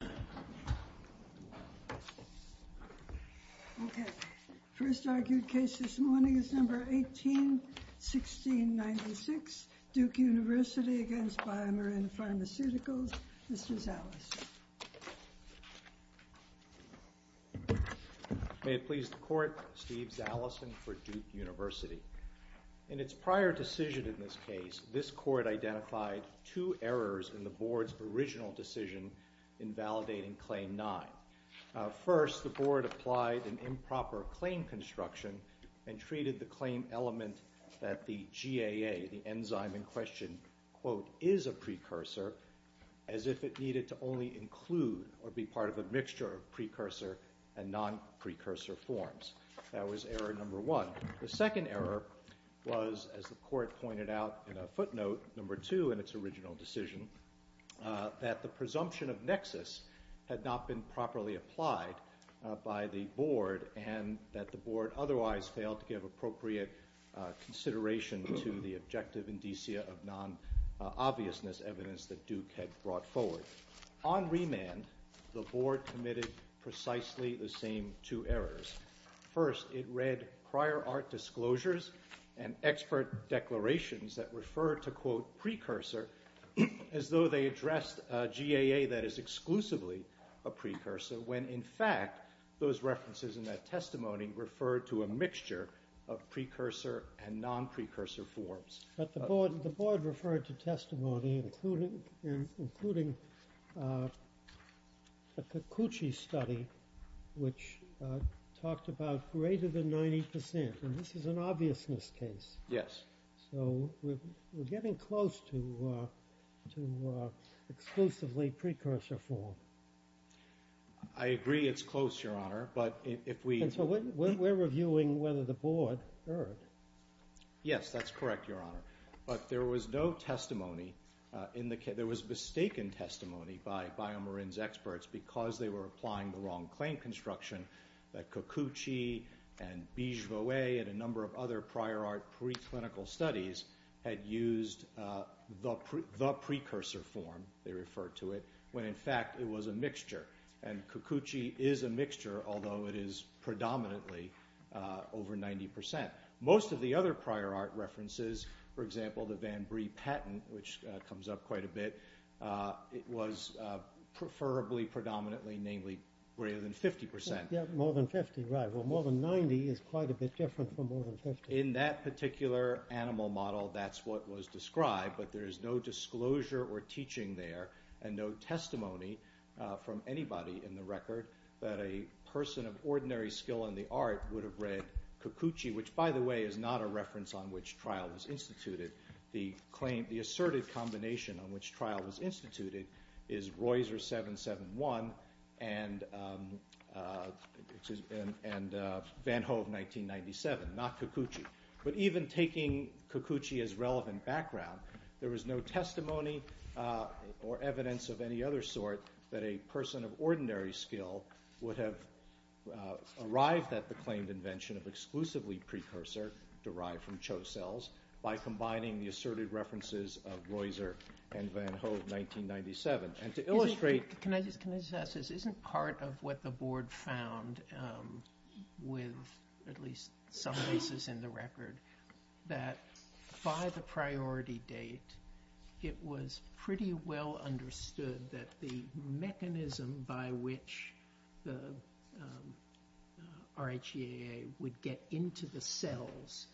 May it please the Court, Steve Zalesin for Duke University. In its prior decision in this case, this Court identified two errors in the Board's original decision in validating Claim 9. First, the Board applied an improper claim construction and treated the claim element that the GAA, the enzyme in question, quote, is a precursor as if it needed to only include or be part of a mixture of precursor and non-precursor forms. That was error number one. The second error was, as the Court pointed out in a footnote, number two in its original decision, that the presumption of nexus had not been properly applied by the Board and that the Board otherwise failed to give appropriate consideration to the objective indicia of non-obviousness evidence that Duke had brought forward. On remand, the Board committed precisely the same two errors. First, it read prior art disclosures and expert declarations that refer to, quote, precursor as though they addressed GAA that is exclusively a precursor when in fact those references in that testimony referred to a mixture of precursor and non-precursor forms. But the Board referred to testimony including a Cucucci study which talked about greater than 90 percent, and this is an obviousness case. Yes. So we're getting close to exclusively precursor form. I agree it's close, Your Honor, but if we... And so we're reviewing whether the Board erred. Yes, that's correct, Your Honor, but there was no testimony in the case... There was mistaken testimony by BioMarin's experts because they were applying the wrong claim construction that Cucucci and Bigevoet and a number of other prior art preclinical studies had used the precursor form, they referred to it, when in fact it was a mixture. And Cucucci is a mixture, although it is predominantly over 90 percent. Most of the other prior art references, for example the Van Brie patent, which comes up quite a bit, it was preferably predominantly namely greater than 50 percent. More than 50, right. Well, more than 90 is quite a bit different from more than 50. In that particular animal model, that's what was described, but there is no disclosure or teaching there and no testimony from anybody in the record that a person of ordinary skill in the art would have read Cucucci, which by the way is not a reference on which trial was instituted. The asserted combination on which trial was instituted is Reusser 771 and Van Hove 1997, not Cucucci. But even taking Cucucci as relevant background, there was no testimony or evidence of any other sort that a person of ordinary skill would have arrived at the claimed invention of exclusively precursor, derived from Cho cells, by combining the asserted references of Reusser and Van Hove 1997. And to illustrate... Can I just ask this? Isn't part of what the board found with at least some cases in the record that by the priority date, it was pretty well understood that the mechanism by which the RHEAA would get into the cells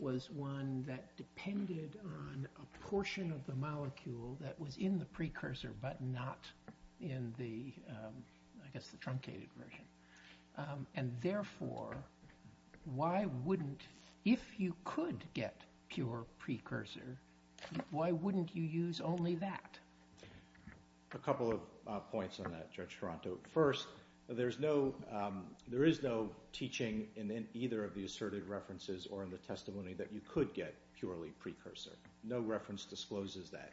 was one that depended on a portion of the molecule that was in the precursor, but not in the, I guess the truncated version. And therefore, why wouldn't, if you could get pure precursor, why wouldn't you use only that? A couple of points on that, Judge Toronto. First, there is no teaching in either of the asserted references or in the testimony that you could get purely precursor. No reference discloses that.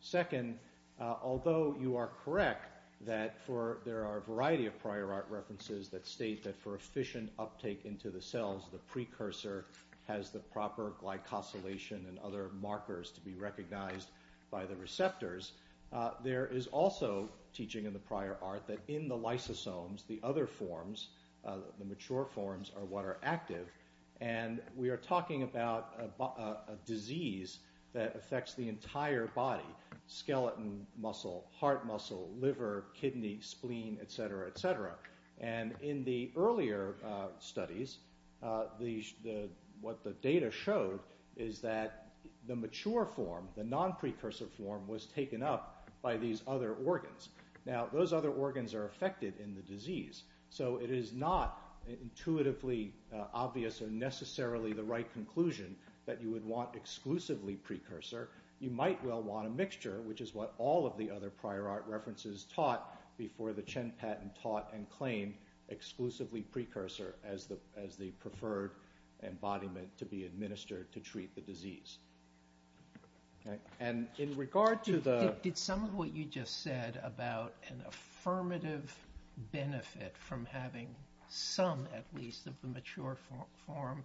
Second, although you are correct that there are a variety of prior art references that state that for efficient uptake into the cells, the precursor has the proper glycosylation and other markers to be recognized by the receptors, there is also teaching in the prior art that in the lysosomes, the other forms, the mature forms are what are active. And we are talking about a disease that affects the entire body, skeleton muscle, heart muscle, liver, kidney, spleen, et cetera, et cetera. And in the earlier studies, what the data showed is that the mature form, the non-precursor form was taken up by these other organs. Now those other organs are affected in the disease, so it is not intuitively obvious or necessarily the right conclusion that you would want exclusively precursor. You might well want a mixture, which is what all of the other prior art references taught before the Chen patent taught and claimed exclusively precursor as the preferred embodiment to be administered to treat the disease. And in regard to the... Did some of what you just said about an affirmative benefit from having some, at least, of the mature form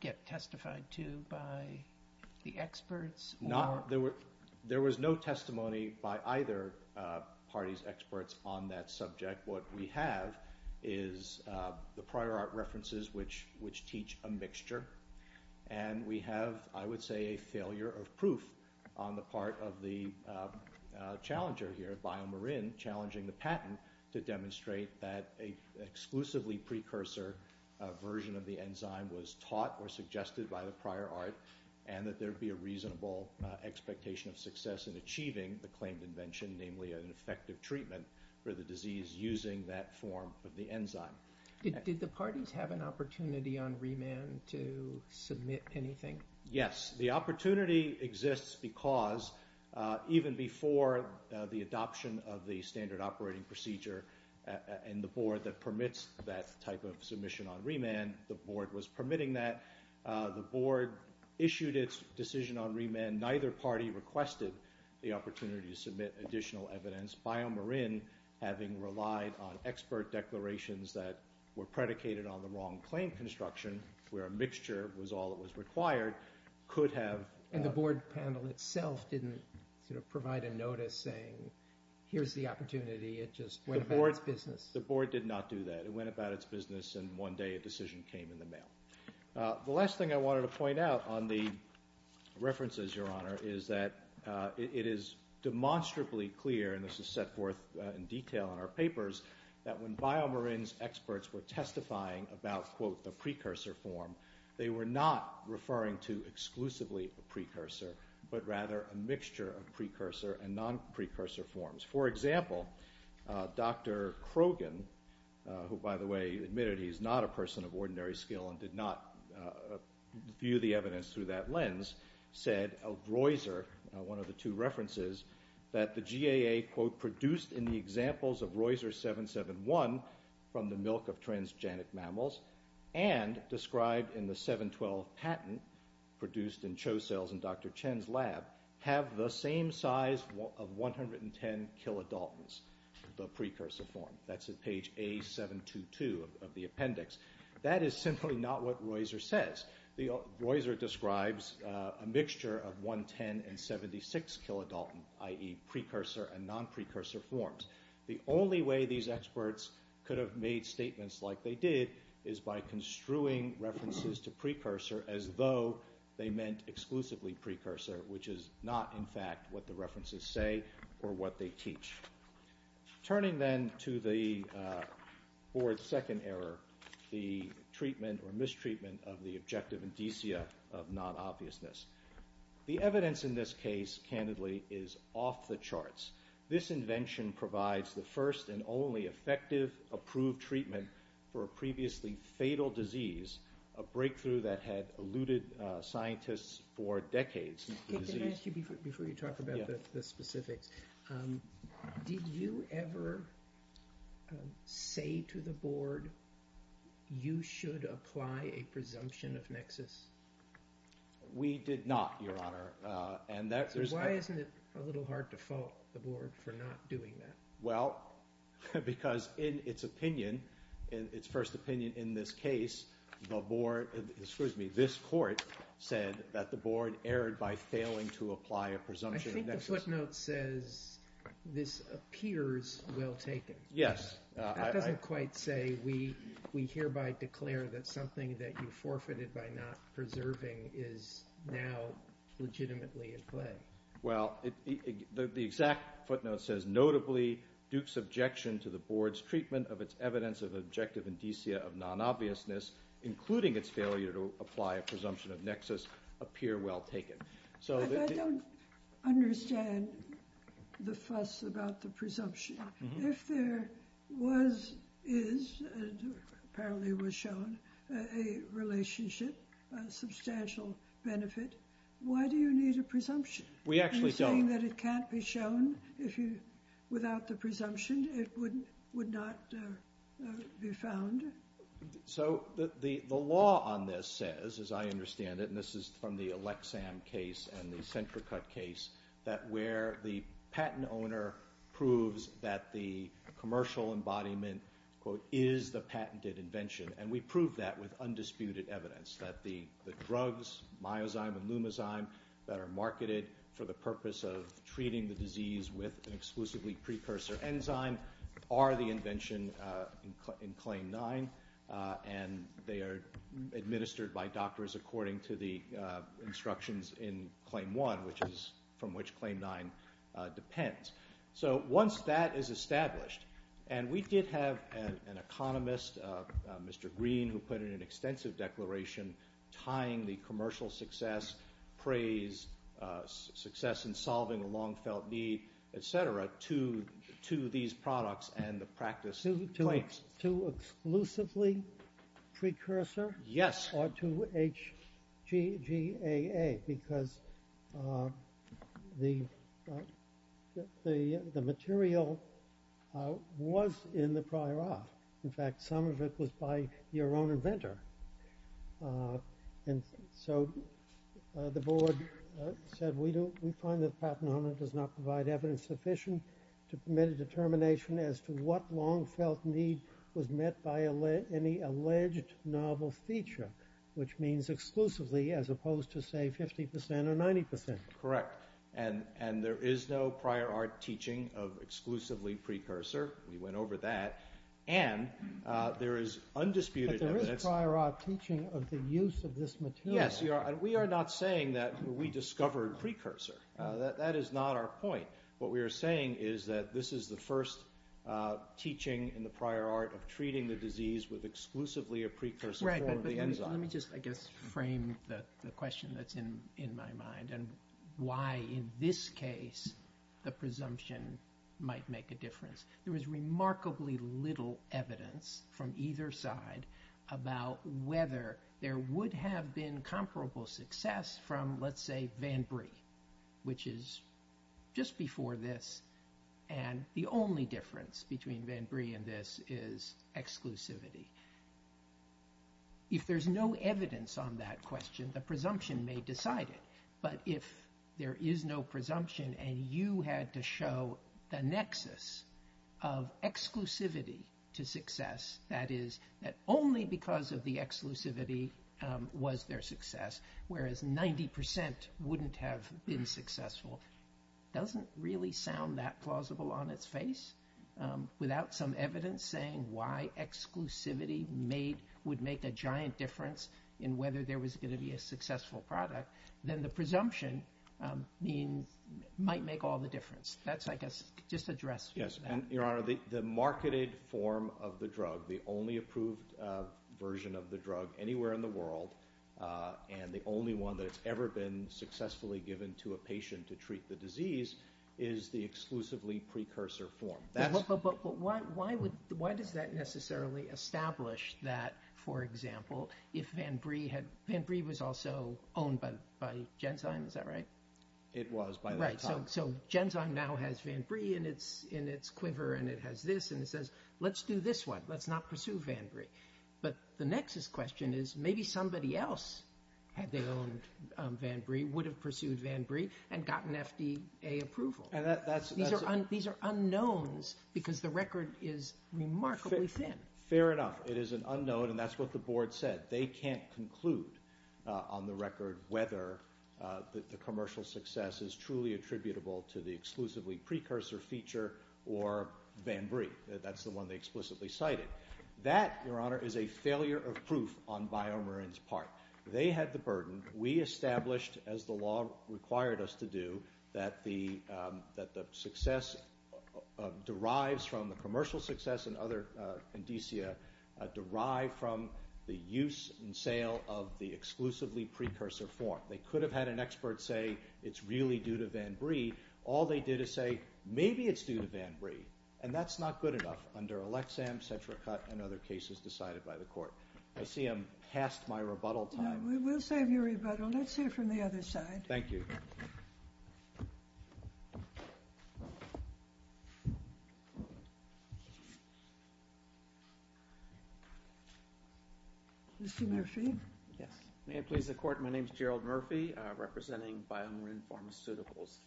get testified to by the experts? There was no testimony by either party's experts on that subject. What we have is the prior art references, which teach a mixture. And we have, I would say, a failure of proof on the part of the challenger here, BioMarin, challenging the patent to demonstrate that a exclusively precursor version of the enzyme was taught or suggested by the prior art and that there would be a reasonable expectation of success in achieving the claimed invention, namely an effective treatment for the disease using that form of the enzyme. Did the parties have an opportunity on remand to submit anything? Yes. The opportunity exists because even before the adoption of the standard operating procedure and the board that permits that type of submission on remand, the board was permitting that. The board issued its decision on remand. Neither party requested the opportunity to submit additional evidence. BioMarin, having relied on expert declarations that were predicated on the wrong claim construction, where a mixture was all that was required, could have... And the board panel itself didn't provide a notice saying, here's the opportunity. It just went about its business. The board did not do that. It went about its business, and one day a decision came in the board. The last thing I wanted to point out on the references, Your Honor, is that it is demonstrably clear, and this is set forth in detail in our papers, that when BioMarin's experts were testifying about, quote, the precursor form, they were not referring to exclusively a precursor, but rather a mixture of precursor and non-precursor forms. For example, Dr. Krogan, who by the way admitted he's not a person of ordinary skill and did not view the evidence through that lens, said of Reusser, one of the two references, that the GAA, quote, produced in the examples of Reusser 771 from the milk of transgenic mammals, and described in the 712 patent produced in Cho cells in Dr. Chen's lab, have the same size of 110 kilodaltons, the precursor form. That's at page A722 of the appendix. That is simply not what Reusser says. Reusser describes a mixture of 110 and 76 kilodaltons, i.e. precursor and non-precursor forms. The only way these experts could have made statements like they did is by construing references to precursor as though they meant exclusively precursor, which is not in fact what the references say or what they teach. Turning then to the board's second error, the treatment or mistreatment of the objective indicia of non-obviousness. The evidence in this case, candidly, is off the charts. This invention provides the first and only effective approved treatment for a previously fatal disease, a breakthrough that had eluded scientists for decades. Before you talk about the specifics, did you ever say to the board you should apply a presumption of nexus? We did not, Your Honor. Why isn't it a little hard to fault the board for not doing that? Because in its opinion, its first opinion in this case, this court said that the board erred by failing to apply a presumption of nexus. I think the footnote says this appears well taken. Yes. That doesn't quite say we hereby declare that something that you forfeited by not preserving is now legitimately at play. Well, the exact footnote says, notably, Duke's objection to the board's treatment of its evidence of objective indicia of non-obviousness, including its failure to apply a presumption of nexus, appear well taken. I don't understand the fuss about the presumption. If there was, is, and apparently was shown, a relationship, a substantial benefit, why do you need a presumption? We actually don't. Are you saying that it can't be shown without the presumption? It would not be found? So, the law on this says, as I understand it, and this is from the Elexam case and the Centracut case, that where the patent owner proves that the commercial embodiment, quote, is the patented invention, and we prove that with undisputed evidence, that the drugs, myozyme and lumozyme, that are marketed for the purpose of treating the disease with an underlying, and they are administered by doctors according to the instructions in Claim 1, from which Claim 9 depends. So, once that is established, and we did have an economist, Mr. Green, who put in an extensive declaration tying the commercial success, praise, success in solving a long-felt need, et cetera, to these products and the practice claims. To exclusively precursor? Yes. Or to HGGAA, because the material was in the prior art. In fact, some of it was by your own inventor. And so, the board said, we find that the patent owner does not provide evidence sufficient to permit a determination as to what long-felt need was met by any alleged novel feature, which means exclusively, as opposed to, say, 50% or 90%. Correct. And there is no prior art teaching of exclusively precursor. We went over that. And there is undisputed evidence. But there is prior art teaching of the use of this material. Yes. And we are not saying that we discovered precursor. That is not our point. What we are saying is that this is the first teaching in the prior art of treating the disease with exclusively a precursor form of the enzyme. Right. But let me just, I guess, frame the question that's in my mind and why, in this case, the presumption might make a difference. There was remarkably little evidence from either side about whether there would have been comparable success from, let's say, VanBree, which is just before this. And the only difference between VanBree and this is exclusivity. If there's no evidence on that question, the presumption may decide it. But if there is no presumption and you had to show the nexus of exclusivity to success, that is, that only because of the exclusivity was there success, whereas 90% wouldn't have been successful, doesn't really sound that plausible on its face. Without some evidence saying why exclusivity would make a giant difference in whether there was going to be a successful product, then the presumption might make all the difference. That's, I guess, just to address that. Your Honor, the marketed form of the drug, the only approved version of the drug anywhere in the world, and the only one that's ever been successfully given to a patient to treat the disease, is the exclusively precursor form. But why does that necessarily establish that, for example, if VanBree had, VanBree was also owned by Genzyme, is that right? It was by that time. So Genzyme now has VanBree in its quiver and it has this and it says, let's do this one, let's not pursue VanBree. But the nexus question is maybe somebody else had they owned VanBree, would have pursued VanBree and gotten FDA approval. These are unknowns because the record is remarkably thin. Fair enough, it is an unknown and that's what the Board said. That they can't conclude on the record whether the commercial success is truly attributable to the exclusively precursor feature or VanBree. That's the one they explicitly cited. That, Your Honor, is a failure of proof on BioMarin's part. They had the burden. We established, as the law required us to do, that the success derives from the commercial success and other indicia derive from the use and sale of the exclusively precursor form. They could have had an expert say, it's really due to VanBree. All they did is say, maybe it's due to VanBree. And that's not good enough under Elexam, CetraCut, and other cases decided by the court. I see I'm past my rebuttal time. No, we will save your rebuttal. Let's hear from the other side. Thank you. Mr. Murphy? Yes. May it please the Court, my name is Gerald Murphy, representing BioMarin Pharmaceuticals.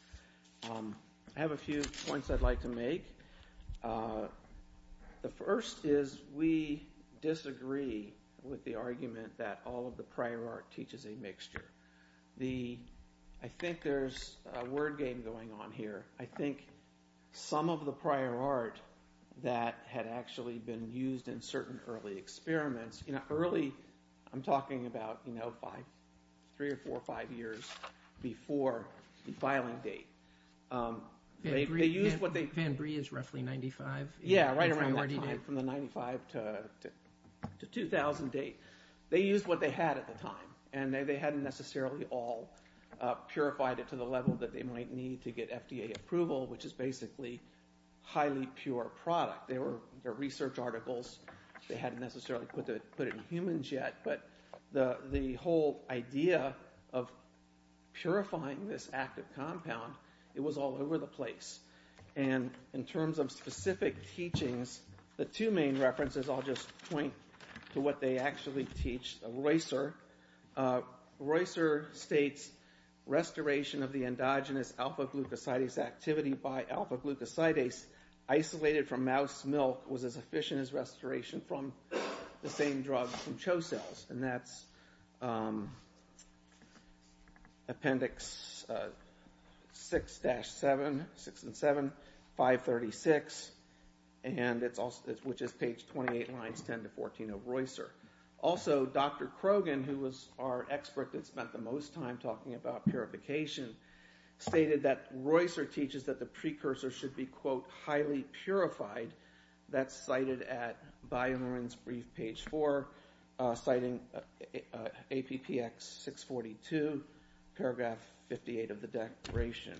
I have a few points I'd like to make. The first is we disagree with the argument that all of the prior art teaches a mixture. I think there's a word game going on here. I think some of the prior art that had actually been used in certain early experiments, early, I'm talking about three or four or five years before the filing date. VanBree is roughly 95. Yeah, right around that time, from the 95 to 2000 date. They used what they had at the time. And they hadn't necessarily all purified it to the level that they might need to get FDA approval, which is basically highly pure product. They were research articles. They hadn't necessarily put it in humans yet. But the whole idea of purifying this active compound, it was all over the place. And in terms of specific teachings, the two main references, I'll just point to what they actually teach. Reusser states, restoration of the endogenous alpha-glucosidase activity by alpha-glucosidase isolated from mouse milk was as efficient as restoration from the same drug from cho-cells. And that's Appendix 6-7, 6 and 7, 536, which is page 28, lines 10 to 14 of Reusser. Also, Dr. Krogan, who was our expert that spent the most time talking about purification, stated that Reusser teaches that the precursor should be, quote, highly purified. That's cited at BioMarin's brief, page 4, citing APPX 642, paragraph 58 of the declaration.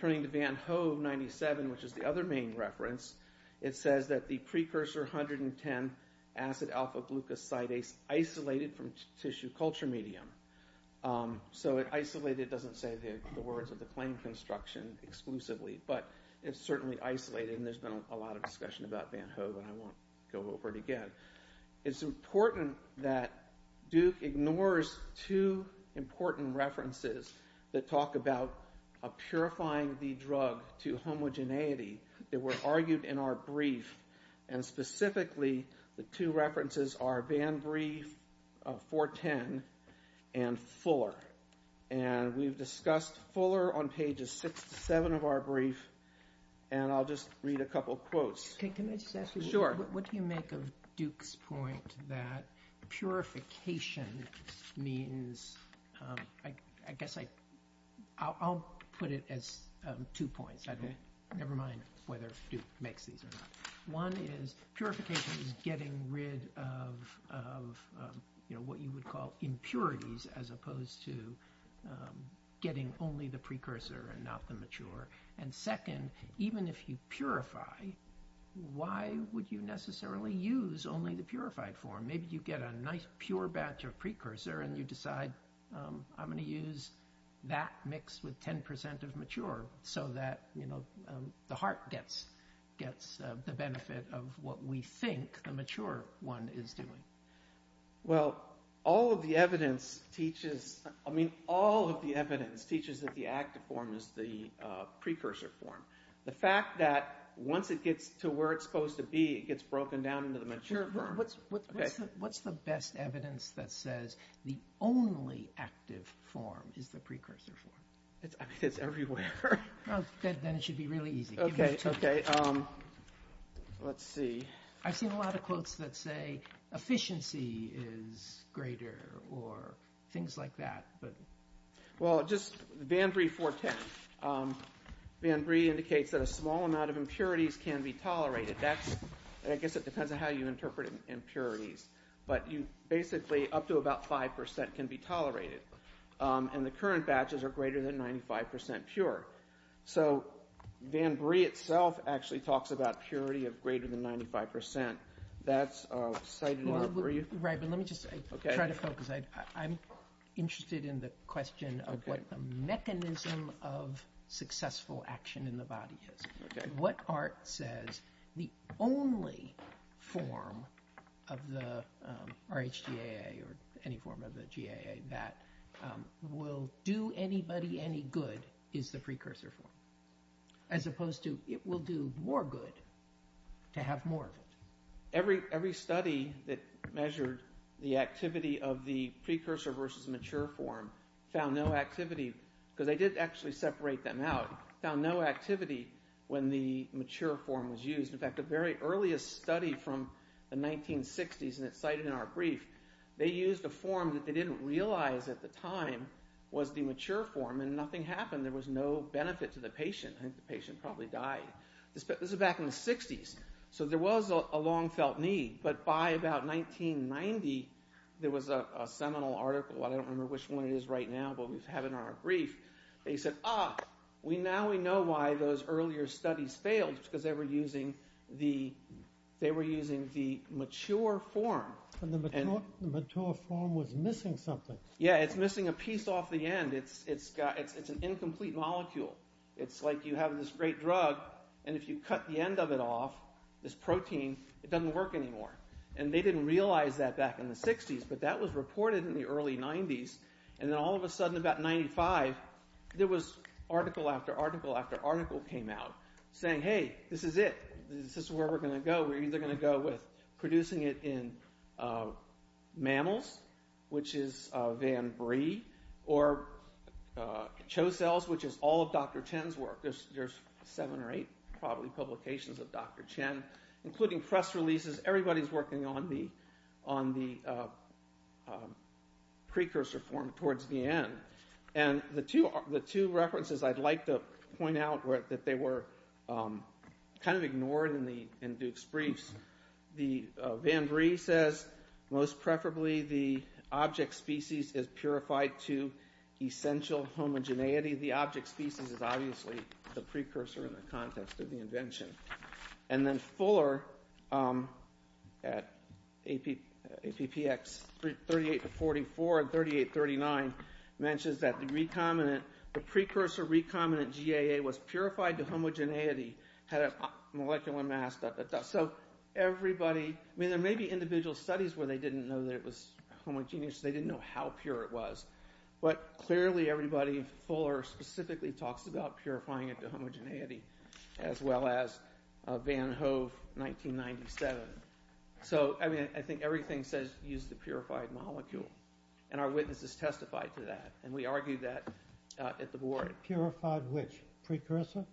Turning to VanHoe 97, which is the other main reference, it says that the precursor 110-acet-alpha-glucosidase isolated from tissue culture medium. So, isolated doesn't say the words of the claim construction exclusively, but it's certainly isolated, and there's been a lot of discussion about VanHoe that I won't go over again. It's important that Duke ignores two important references that talk about purifying the drug to homogeneity. They were argued in our brief, and specifically, the two references are Band Brief 410 and Fuller. And we've discussed Fuller on pages 6-7 of our brief, and I'll just read a couple quotes. Can I just ask you, what do you make of Duke's point that purification means, I guess I'll put it as two points, never mind whether Duke makes these or not. One is purification is getting rid of what you would call impurities, as opposed to getting only the precursor and not the mature. And second, even if you purify, why would you necessarily use only the purified form? Maybe you get a nice pure batch of precursor and you decide, I'm going to use that mixed with 10% of mature, so that the heart gets the benefit of what we think the mature one is doing. Well, all of the evidence teaches that the active form is the precursor form. The fact that once it gets to where it's supposed to be, it gets broken down into the mature form. What's the best evidence that says the only active form is the precursor form? I mean, it's everywhere. Then it should be really easy. Okay, okay. Let's see. I've seen a lot of quotes that say efficiency is greater or things like that. Well, just Vanbury 410. Vanbury indicates that a small amount of impurities can be tolerated. I guess it depends on how you interpret impurities. But basically up to about 5% can be tolerated. And the current batches are greater than 95% pure. So Vanbury itself actually talks about purity of greater than 95%. That's cited in Vanbury. Right, but let me just try to focus. I'm interested in the question of what the mechanism of successful action in the body is. What art says the only form of the RHGAA or any form of the GAA that will do anybody any good is the precursor form? As opposed to it will do more good to have more of it. Every study that measured the activity of the precursor versus mature form found no activity. Because they did actually separate them out. They found no activity when the mature form was used. In fact, the very earliest study from the 1960s, and it's cited in our brief, they used a form that they didn't realize at the time was the mature form and nothing happened. There was no benefit to the patient. I think the patient probably died. This is back in the 60s. So there was a long felt need. But by about 1990, there was a seminal article. I don't remember which one it is right now, but we have it in our brief. They said, ah, now we know why those earlier studies failed, because they were using the mature form. And the mature form was missing something. Yeah, it's missing a piece off the end. It's an incomplete molecule. It's like you have this great drug, and if you cut the end of it off, this protein, it doesn't work anymore. And they didn't realize that back in the 60s, but that was reported in the early 90s. And then all of a sudden, about 95, there was article after article after article came out saying, hey, this is it. This is where we're going to go. We're either going to go with producing it in mammals, which is Van Brie, or cho-cells, which is all of Dr. Chen's work. There's seven or eight, probably, publications of Dr. Chen, including press releases. Everybody's working on the precursor form towards the end. And the two references I'd like to point out that they were kind of ignored in Duke's briefs. Van Brie says, most preferably, the object species is purified to essential homogeneity. The object species is obviously the precursor in the context of the invention. And then Fuller, at APPX 38-44 and 38-39, mentions that the precursor recombinant GAA was purified to homogeneity, had a molecular mass. So everybody, I mean, there may be individual studies where they didn't know that it was homogeneous, they didn't know how pure it was. But clearly, everybody, Fuller specifically talks about purifying it to homogeneity, as well as Van Hove, 1997. So, I mean, I think everything says use the purified molecule. And our witnesses testified to that. And we argued that at the board. Purified which? Precursor?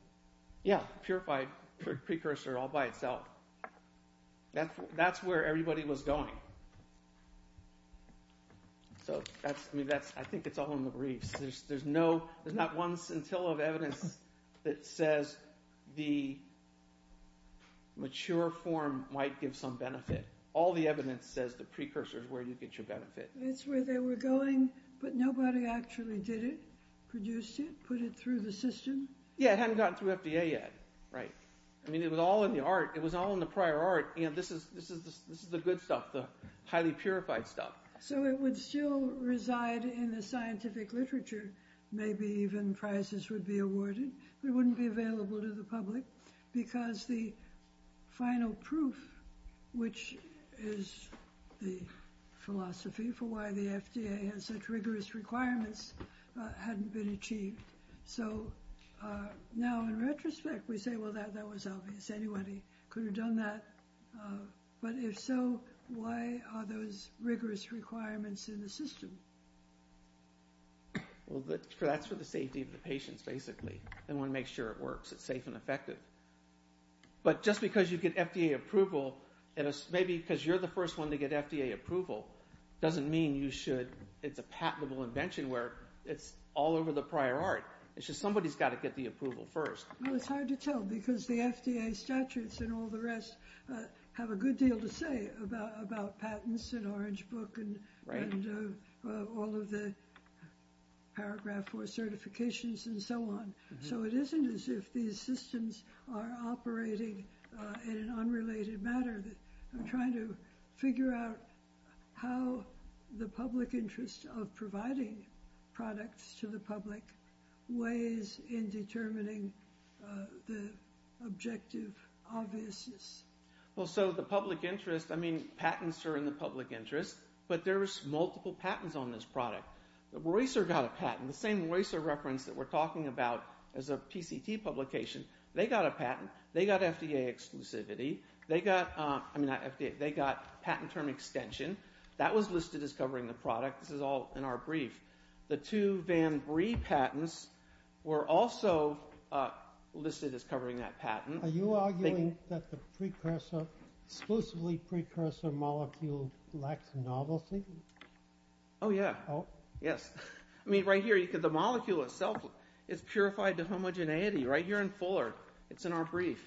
Yeah, purified precursor all by itself. That's where everybody was going. So, I mean, I think it's all in the briefs. There's not one scintilla of evidence that says the mature form might give some benefit. All the evidence says the precursor is where you get your benefit. That's where they were going, but nobody actually did it, produced it, put it through the system? Yeah, it hadn't gotten through FDA yet. I mean, it was all in the art. It was all in the prior art. This is the good stuff, the highly purified stuff. So, it would still reside in the scientific literature. Maybe even prizes would be awarded. It wouldn't be available to the public because the final proof, which is the philosophy for why the FDA has such rigorous requirements, hadn't been achieved. So, now, in retrospect, we say, well, that was obvious. Anybody could have done that. But if so, why are those rigorous requirements in the system? Well, that's for the safety of the patients, basically. They want to make sure it works, it's safe and effective. But just because you get FDA approval, maybe because you're the first one to get FDA approval, doesn't mean you should. It's a patentable invention where it's all over the prior art. It's just somebody's got to get the approval first. Well, it's hard to tell because the FDA statutes and all the rest have a good deal to say about patents and Orange Book and all of the Paragraph 4 certifications and so on. So, it isn't as if these systems are operating in an unrelated matter. I'm trying to figure out how the public interest of providing products to the public weighs in determining the objective obviousness. Well, so, the public interest, I mean, patents are in the public interest, but there's multiple patents on this product. Roycer got a patent, the same Roycer reference that we're talking about as a PCT publication. They got a patent. They got FDA exclusivity. They got patent term extension. That was listed as covering the product. This is all in our brief. The two Van Brie patents were also listed as covering that patent. Are you arguing that the precursor, exclusively precursor molecule lacks novelty? Oh, yeah. Yes. I mean, right here, the molecule itself is purified to homogeneity right here in Fuller. It's in our brief.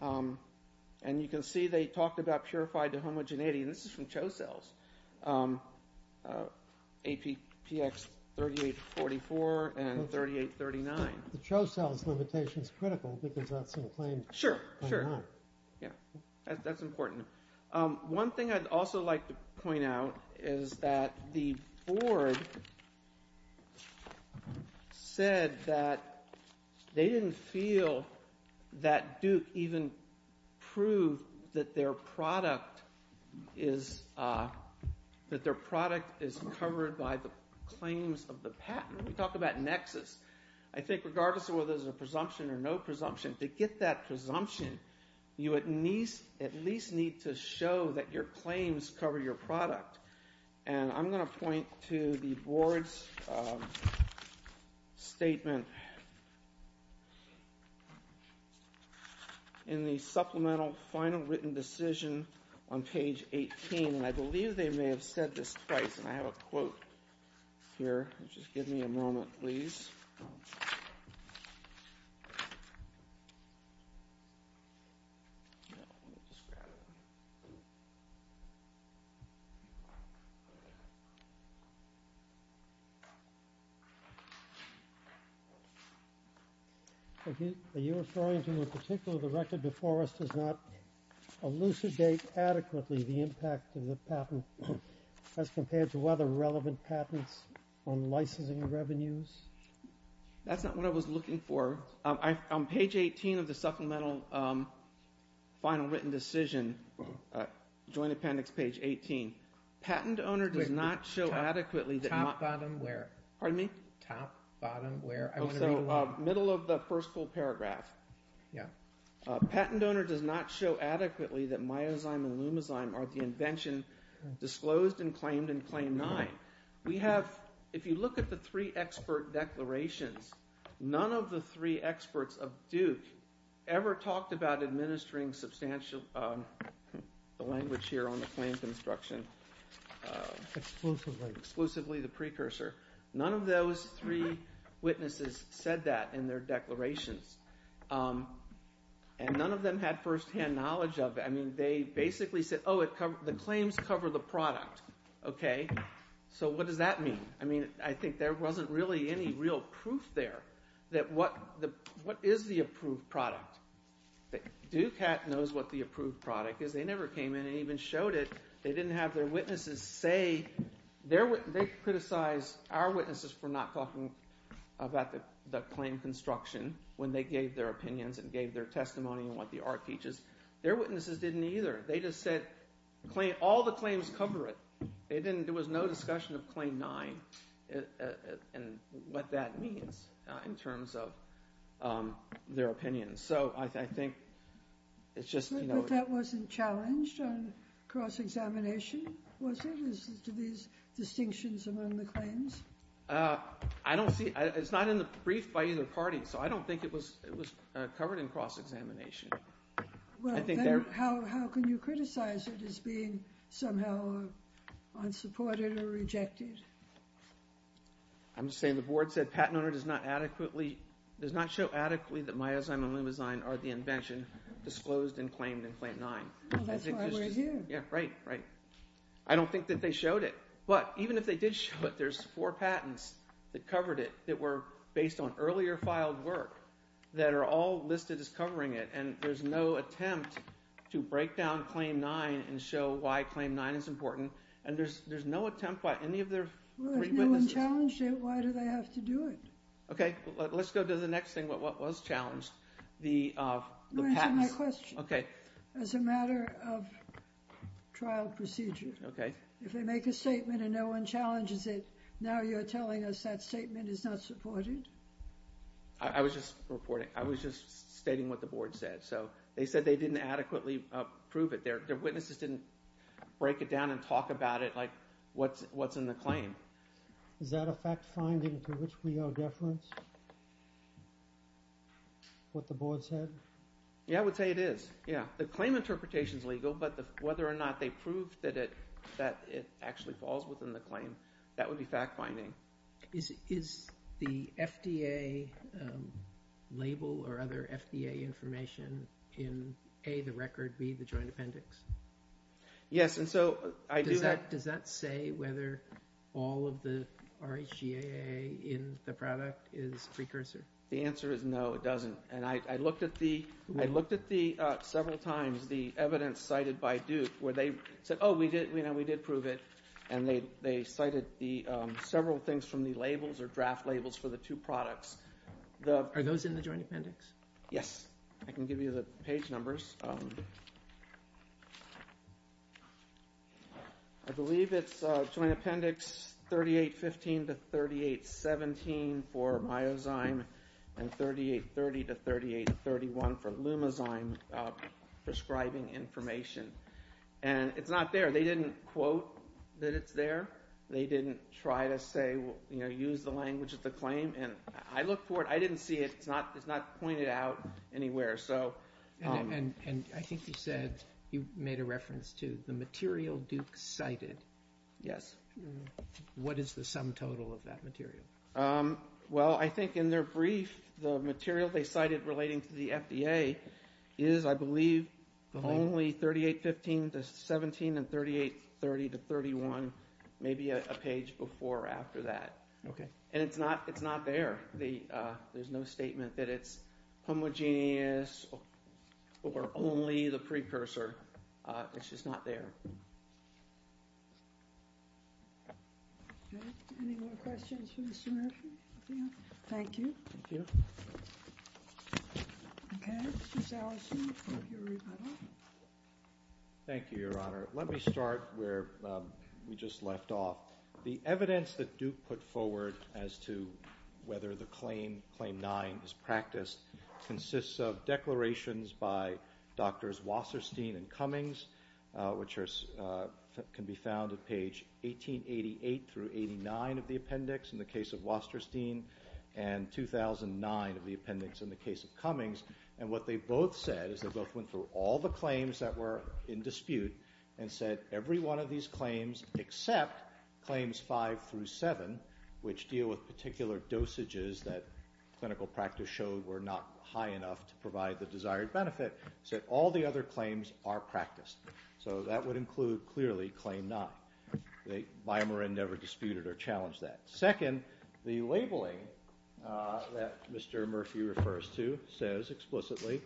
And you can see they talked about purified to homogeneity. And this is from ChoCell's, APX3844 and 3839. The ChoCell's limitation is critical because that's in the claim. Sure. Sure. Yeah. That's important. One thing I'd also like to point out is that the board said that they didn't feel that Duke even proved that their product is covered by the claims of the patent. We talked about nexus. I think regardless of whether there's a presumption or no presumption, to get that presumption, you at least need to show that your claims cover your product. And I'm going to point to the board's statement in the supplemental final written decision on page 18. And I believe they may have said this twice. And I have a quote here. Just give me a moment, please. Are you referring to in particular the record before us does not elucidate adequately the impact of the patent as compared to other relevant patents on licensing revenues? That's not what I was looking for. On page 18 of the supplemental final written decision, joint appendix page 18, patent owner does not show adequately that... Top, bottom, where? Pardon me? Top, bottom, where? Oh, so middle of the first full paragraph. Yeah. Patent owner does not show adequately that myozyme and lumozyme are the invention disclosed and claimed in Claim 9. We have, if you look at the three expert declarations, none of the three experts of Duke ever talked about exclusively the precursor. None of those three witnesses said that in their declarations. And none of them had firsthand knowledge of it. I mean, they basically said, oh, the claims cover the product. Okay. So what does that mean? I mean, I think there wasn't really any real proof there that what is the approved product. Dukat knows what the approved product is. They never came in and even showed it. They didn't have their witnesses say... They criticized our witnesses for not talking about the claim construction when they gave their opinions and gave their testimony on what the art teaches. Their witnesses didn't either. They just said all the claims cover it. There was no discussion of Claim 9 and what that means in terms of their opinions. So I think it's just... But that wasn't challenged on cross-examination, was it? These distinctions among the claims? I don't see... It's not in the brief by either party. So I don't think it was covered in cross-examination. Well, then how can you criticize it as being somehow unsupported or rejected? I'm just saying the board said patent owner does not adequately... Does not show adequately that Myozyme and Lumizyme are the invention disclosed and claimed in Claim 9. That's why we're here. Yeah, right, right. I don't think that they showed it. But even if they did show it, there's four patents that covered it that were based on earlier filed work that are all listed as covering it. And there's no attempt to break down Claim 9 and show why Claim 9 is important. And there's no attempt by any of their... Well, if no one challenged it, why do they have to do it? Okay, let's go to the next thing. What was challenged? The patents. Answer my question. Okay. As a matter of trial procedure. Okay. If they make a statement and no one challenges it, now you're telling us that statement is not supported? I was just reporting. I was just stating what the board said. So they said they didn't adequately prove it. Their witnesses didn't break it down and talk about it like what's in the claim. Is that a fact-finding to which we are deference? What the board said? Yeah, I would say it is. Yeah. The claim interpretation is legal, but whether or not they proved that it actually falls within the claim, that would be fact-finding. Is the FDA label or other FDA information in A, the record, B, the joint appendix? Yes. Does that say whether all of the RHGAA in the product is precursor? The answer is no, it doesn't. And I looked at several times the evidence cited by Duke where they said, oh, we did prove it, and they cited several things from the labels or draft labels for the two products. Are those in the joint appendix? Yes. I can give you the page numbers. I believe it's joint appendix 3815 to 3817 for myozyme and 3830 to 3831 for lumozyme prescribing information. And it's not there. They didn't quote that it's there. They didn't try to say, you know, use the language of the claim. And I looked for it. I didn't see it. It's not pointed out anywhere. And I think you said, you made a reference to the material Duke cited. Yes. What is the sum total of that material? Only 3815 to 3817 and 3830 to 3831. Maybe a page before or after that. And it's not there. There's no statement that it's homogeneous or only the precursor. It's just not there. Any more questions for Mr. Murphy? Thank you. Thank you. Okay. Mr. Sallison for your rebuttal. Thank you, Your Honor. Let me start where we just left off. The evidence that Duke put forward as to whether the Claim 9 is practiced consists of declarations by Doctors Wasserstein and Cummings, which can be found at page 1888 through 89 of the case of Cummings. And what they both said is they both went through all the claims that were in dispute and said every one of these claims except Claims 5 through 7, which deal with particular dosages that clinical practice showed were not high enough to provide the desired benefit, said all the other claims are practiced. So that would include, clearly, Claim 9. Biomarin never disputed or challenged that. Second, the labeling that Mr. Murphy refers to says explicitly,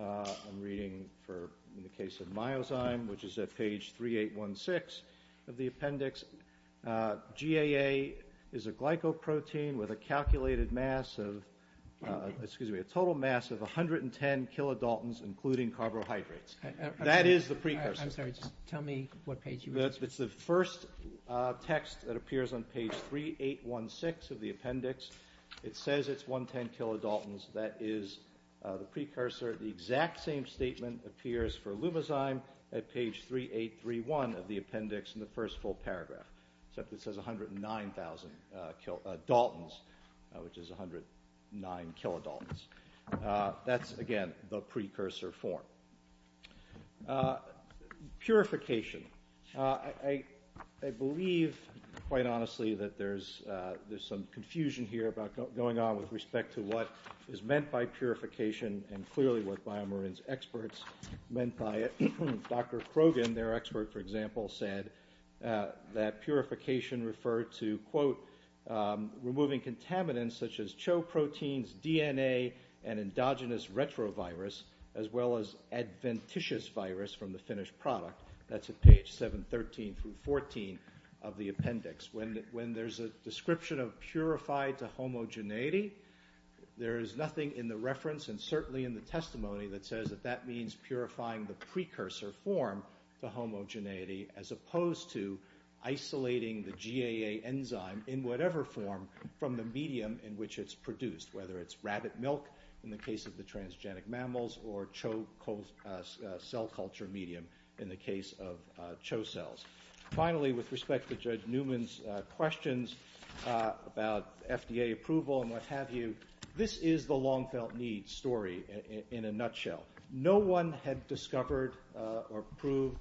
I'm reading in the case of myozyme, which is at page 3816 of the appendix, GAA is a glycoprotein with a calculated mass of, excuse me, a total mass of 110 kilodaltons, including carbohydrates. That is the precursor. I'm sorry. Just tell me what page you were looking at. It's the first text that appears on page 3816 of the appendix. It says it's 110 kilodaltons. That is the precursor. The exact same statement appears for lumizyme at page 3831 of the appendix in the first full paragraph. Except it says 109,000 kilodaltons, which is 109 kilodaltons. That's, again, the precursor form. Purification. I believe, quite honestly, that there's some confusion here about going on with respect to what is meant by purification and clearly what Biomarin's experts meant by it. Dr. Krogan, their expert, for example, said that purification referred to, quote, removing adventitious virus from the finished product. That's at page 713 through 14 of the appendix. When there's a description of purified to homogeneity, there is nothing in the reference and certainly in the testimony that says that that means purifying the precursor form to homogeneity as opposed to isolating the GAA enzyme in whatever form from the medium in which it's produced. Whether it's rabbit milk in the case of the transgenic mammals or Cho cell culture medium in the case of Cho cells. Finally, with respect to Judge Newman's questions about FDA approval and what have you, this is the long felt need story in a nutshell. No one had discovered or proved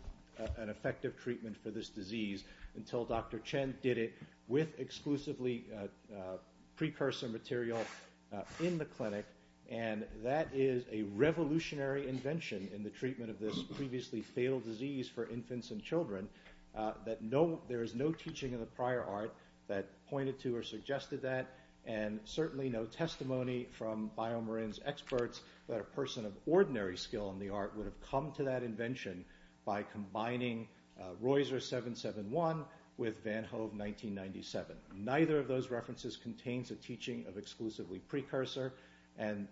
an effective treatment for this disease until Dr. Chen did it with exclusively precursor material in the clinic. And that is a revolutionary invention in the treatment of this previously fatal disease for infants and children that there is no teaching of the prior art that pointed to or suggested that and certainly no testimony from Biomarin's experts that a person of ordinary skill in the art would have come to that invention by combining Reusser 771 with Van Hove 1997. Neither of those references contains a teaching of exclusively precursor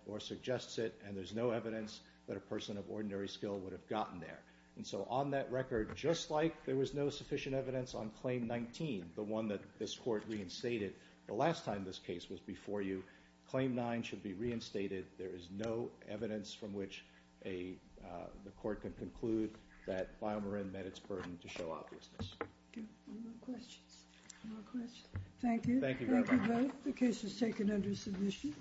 or suggests it and there's no evidence that a person of ordinary skill would have gotten there. So on that record, just like there was no sufficient evidence on Claim 19, the one that this court reinstated the last time this case was before you, Claim 9 should be reinstated. There is no evidence from which the court can conclude that Biomarin met its burden to show obviousness. Thank you. Thank you both. The case is taken under submission.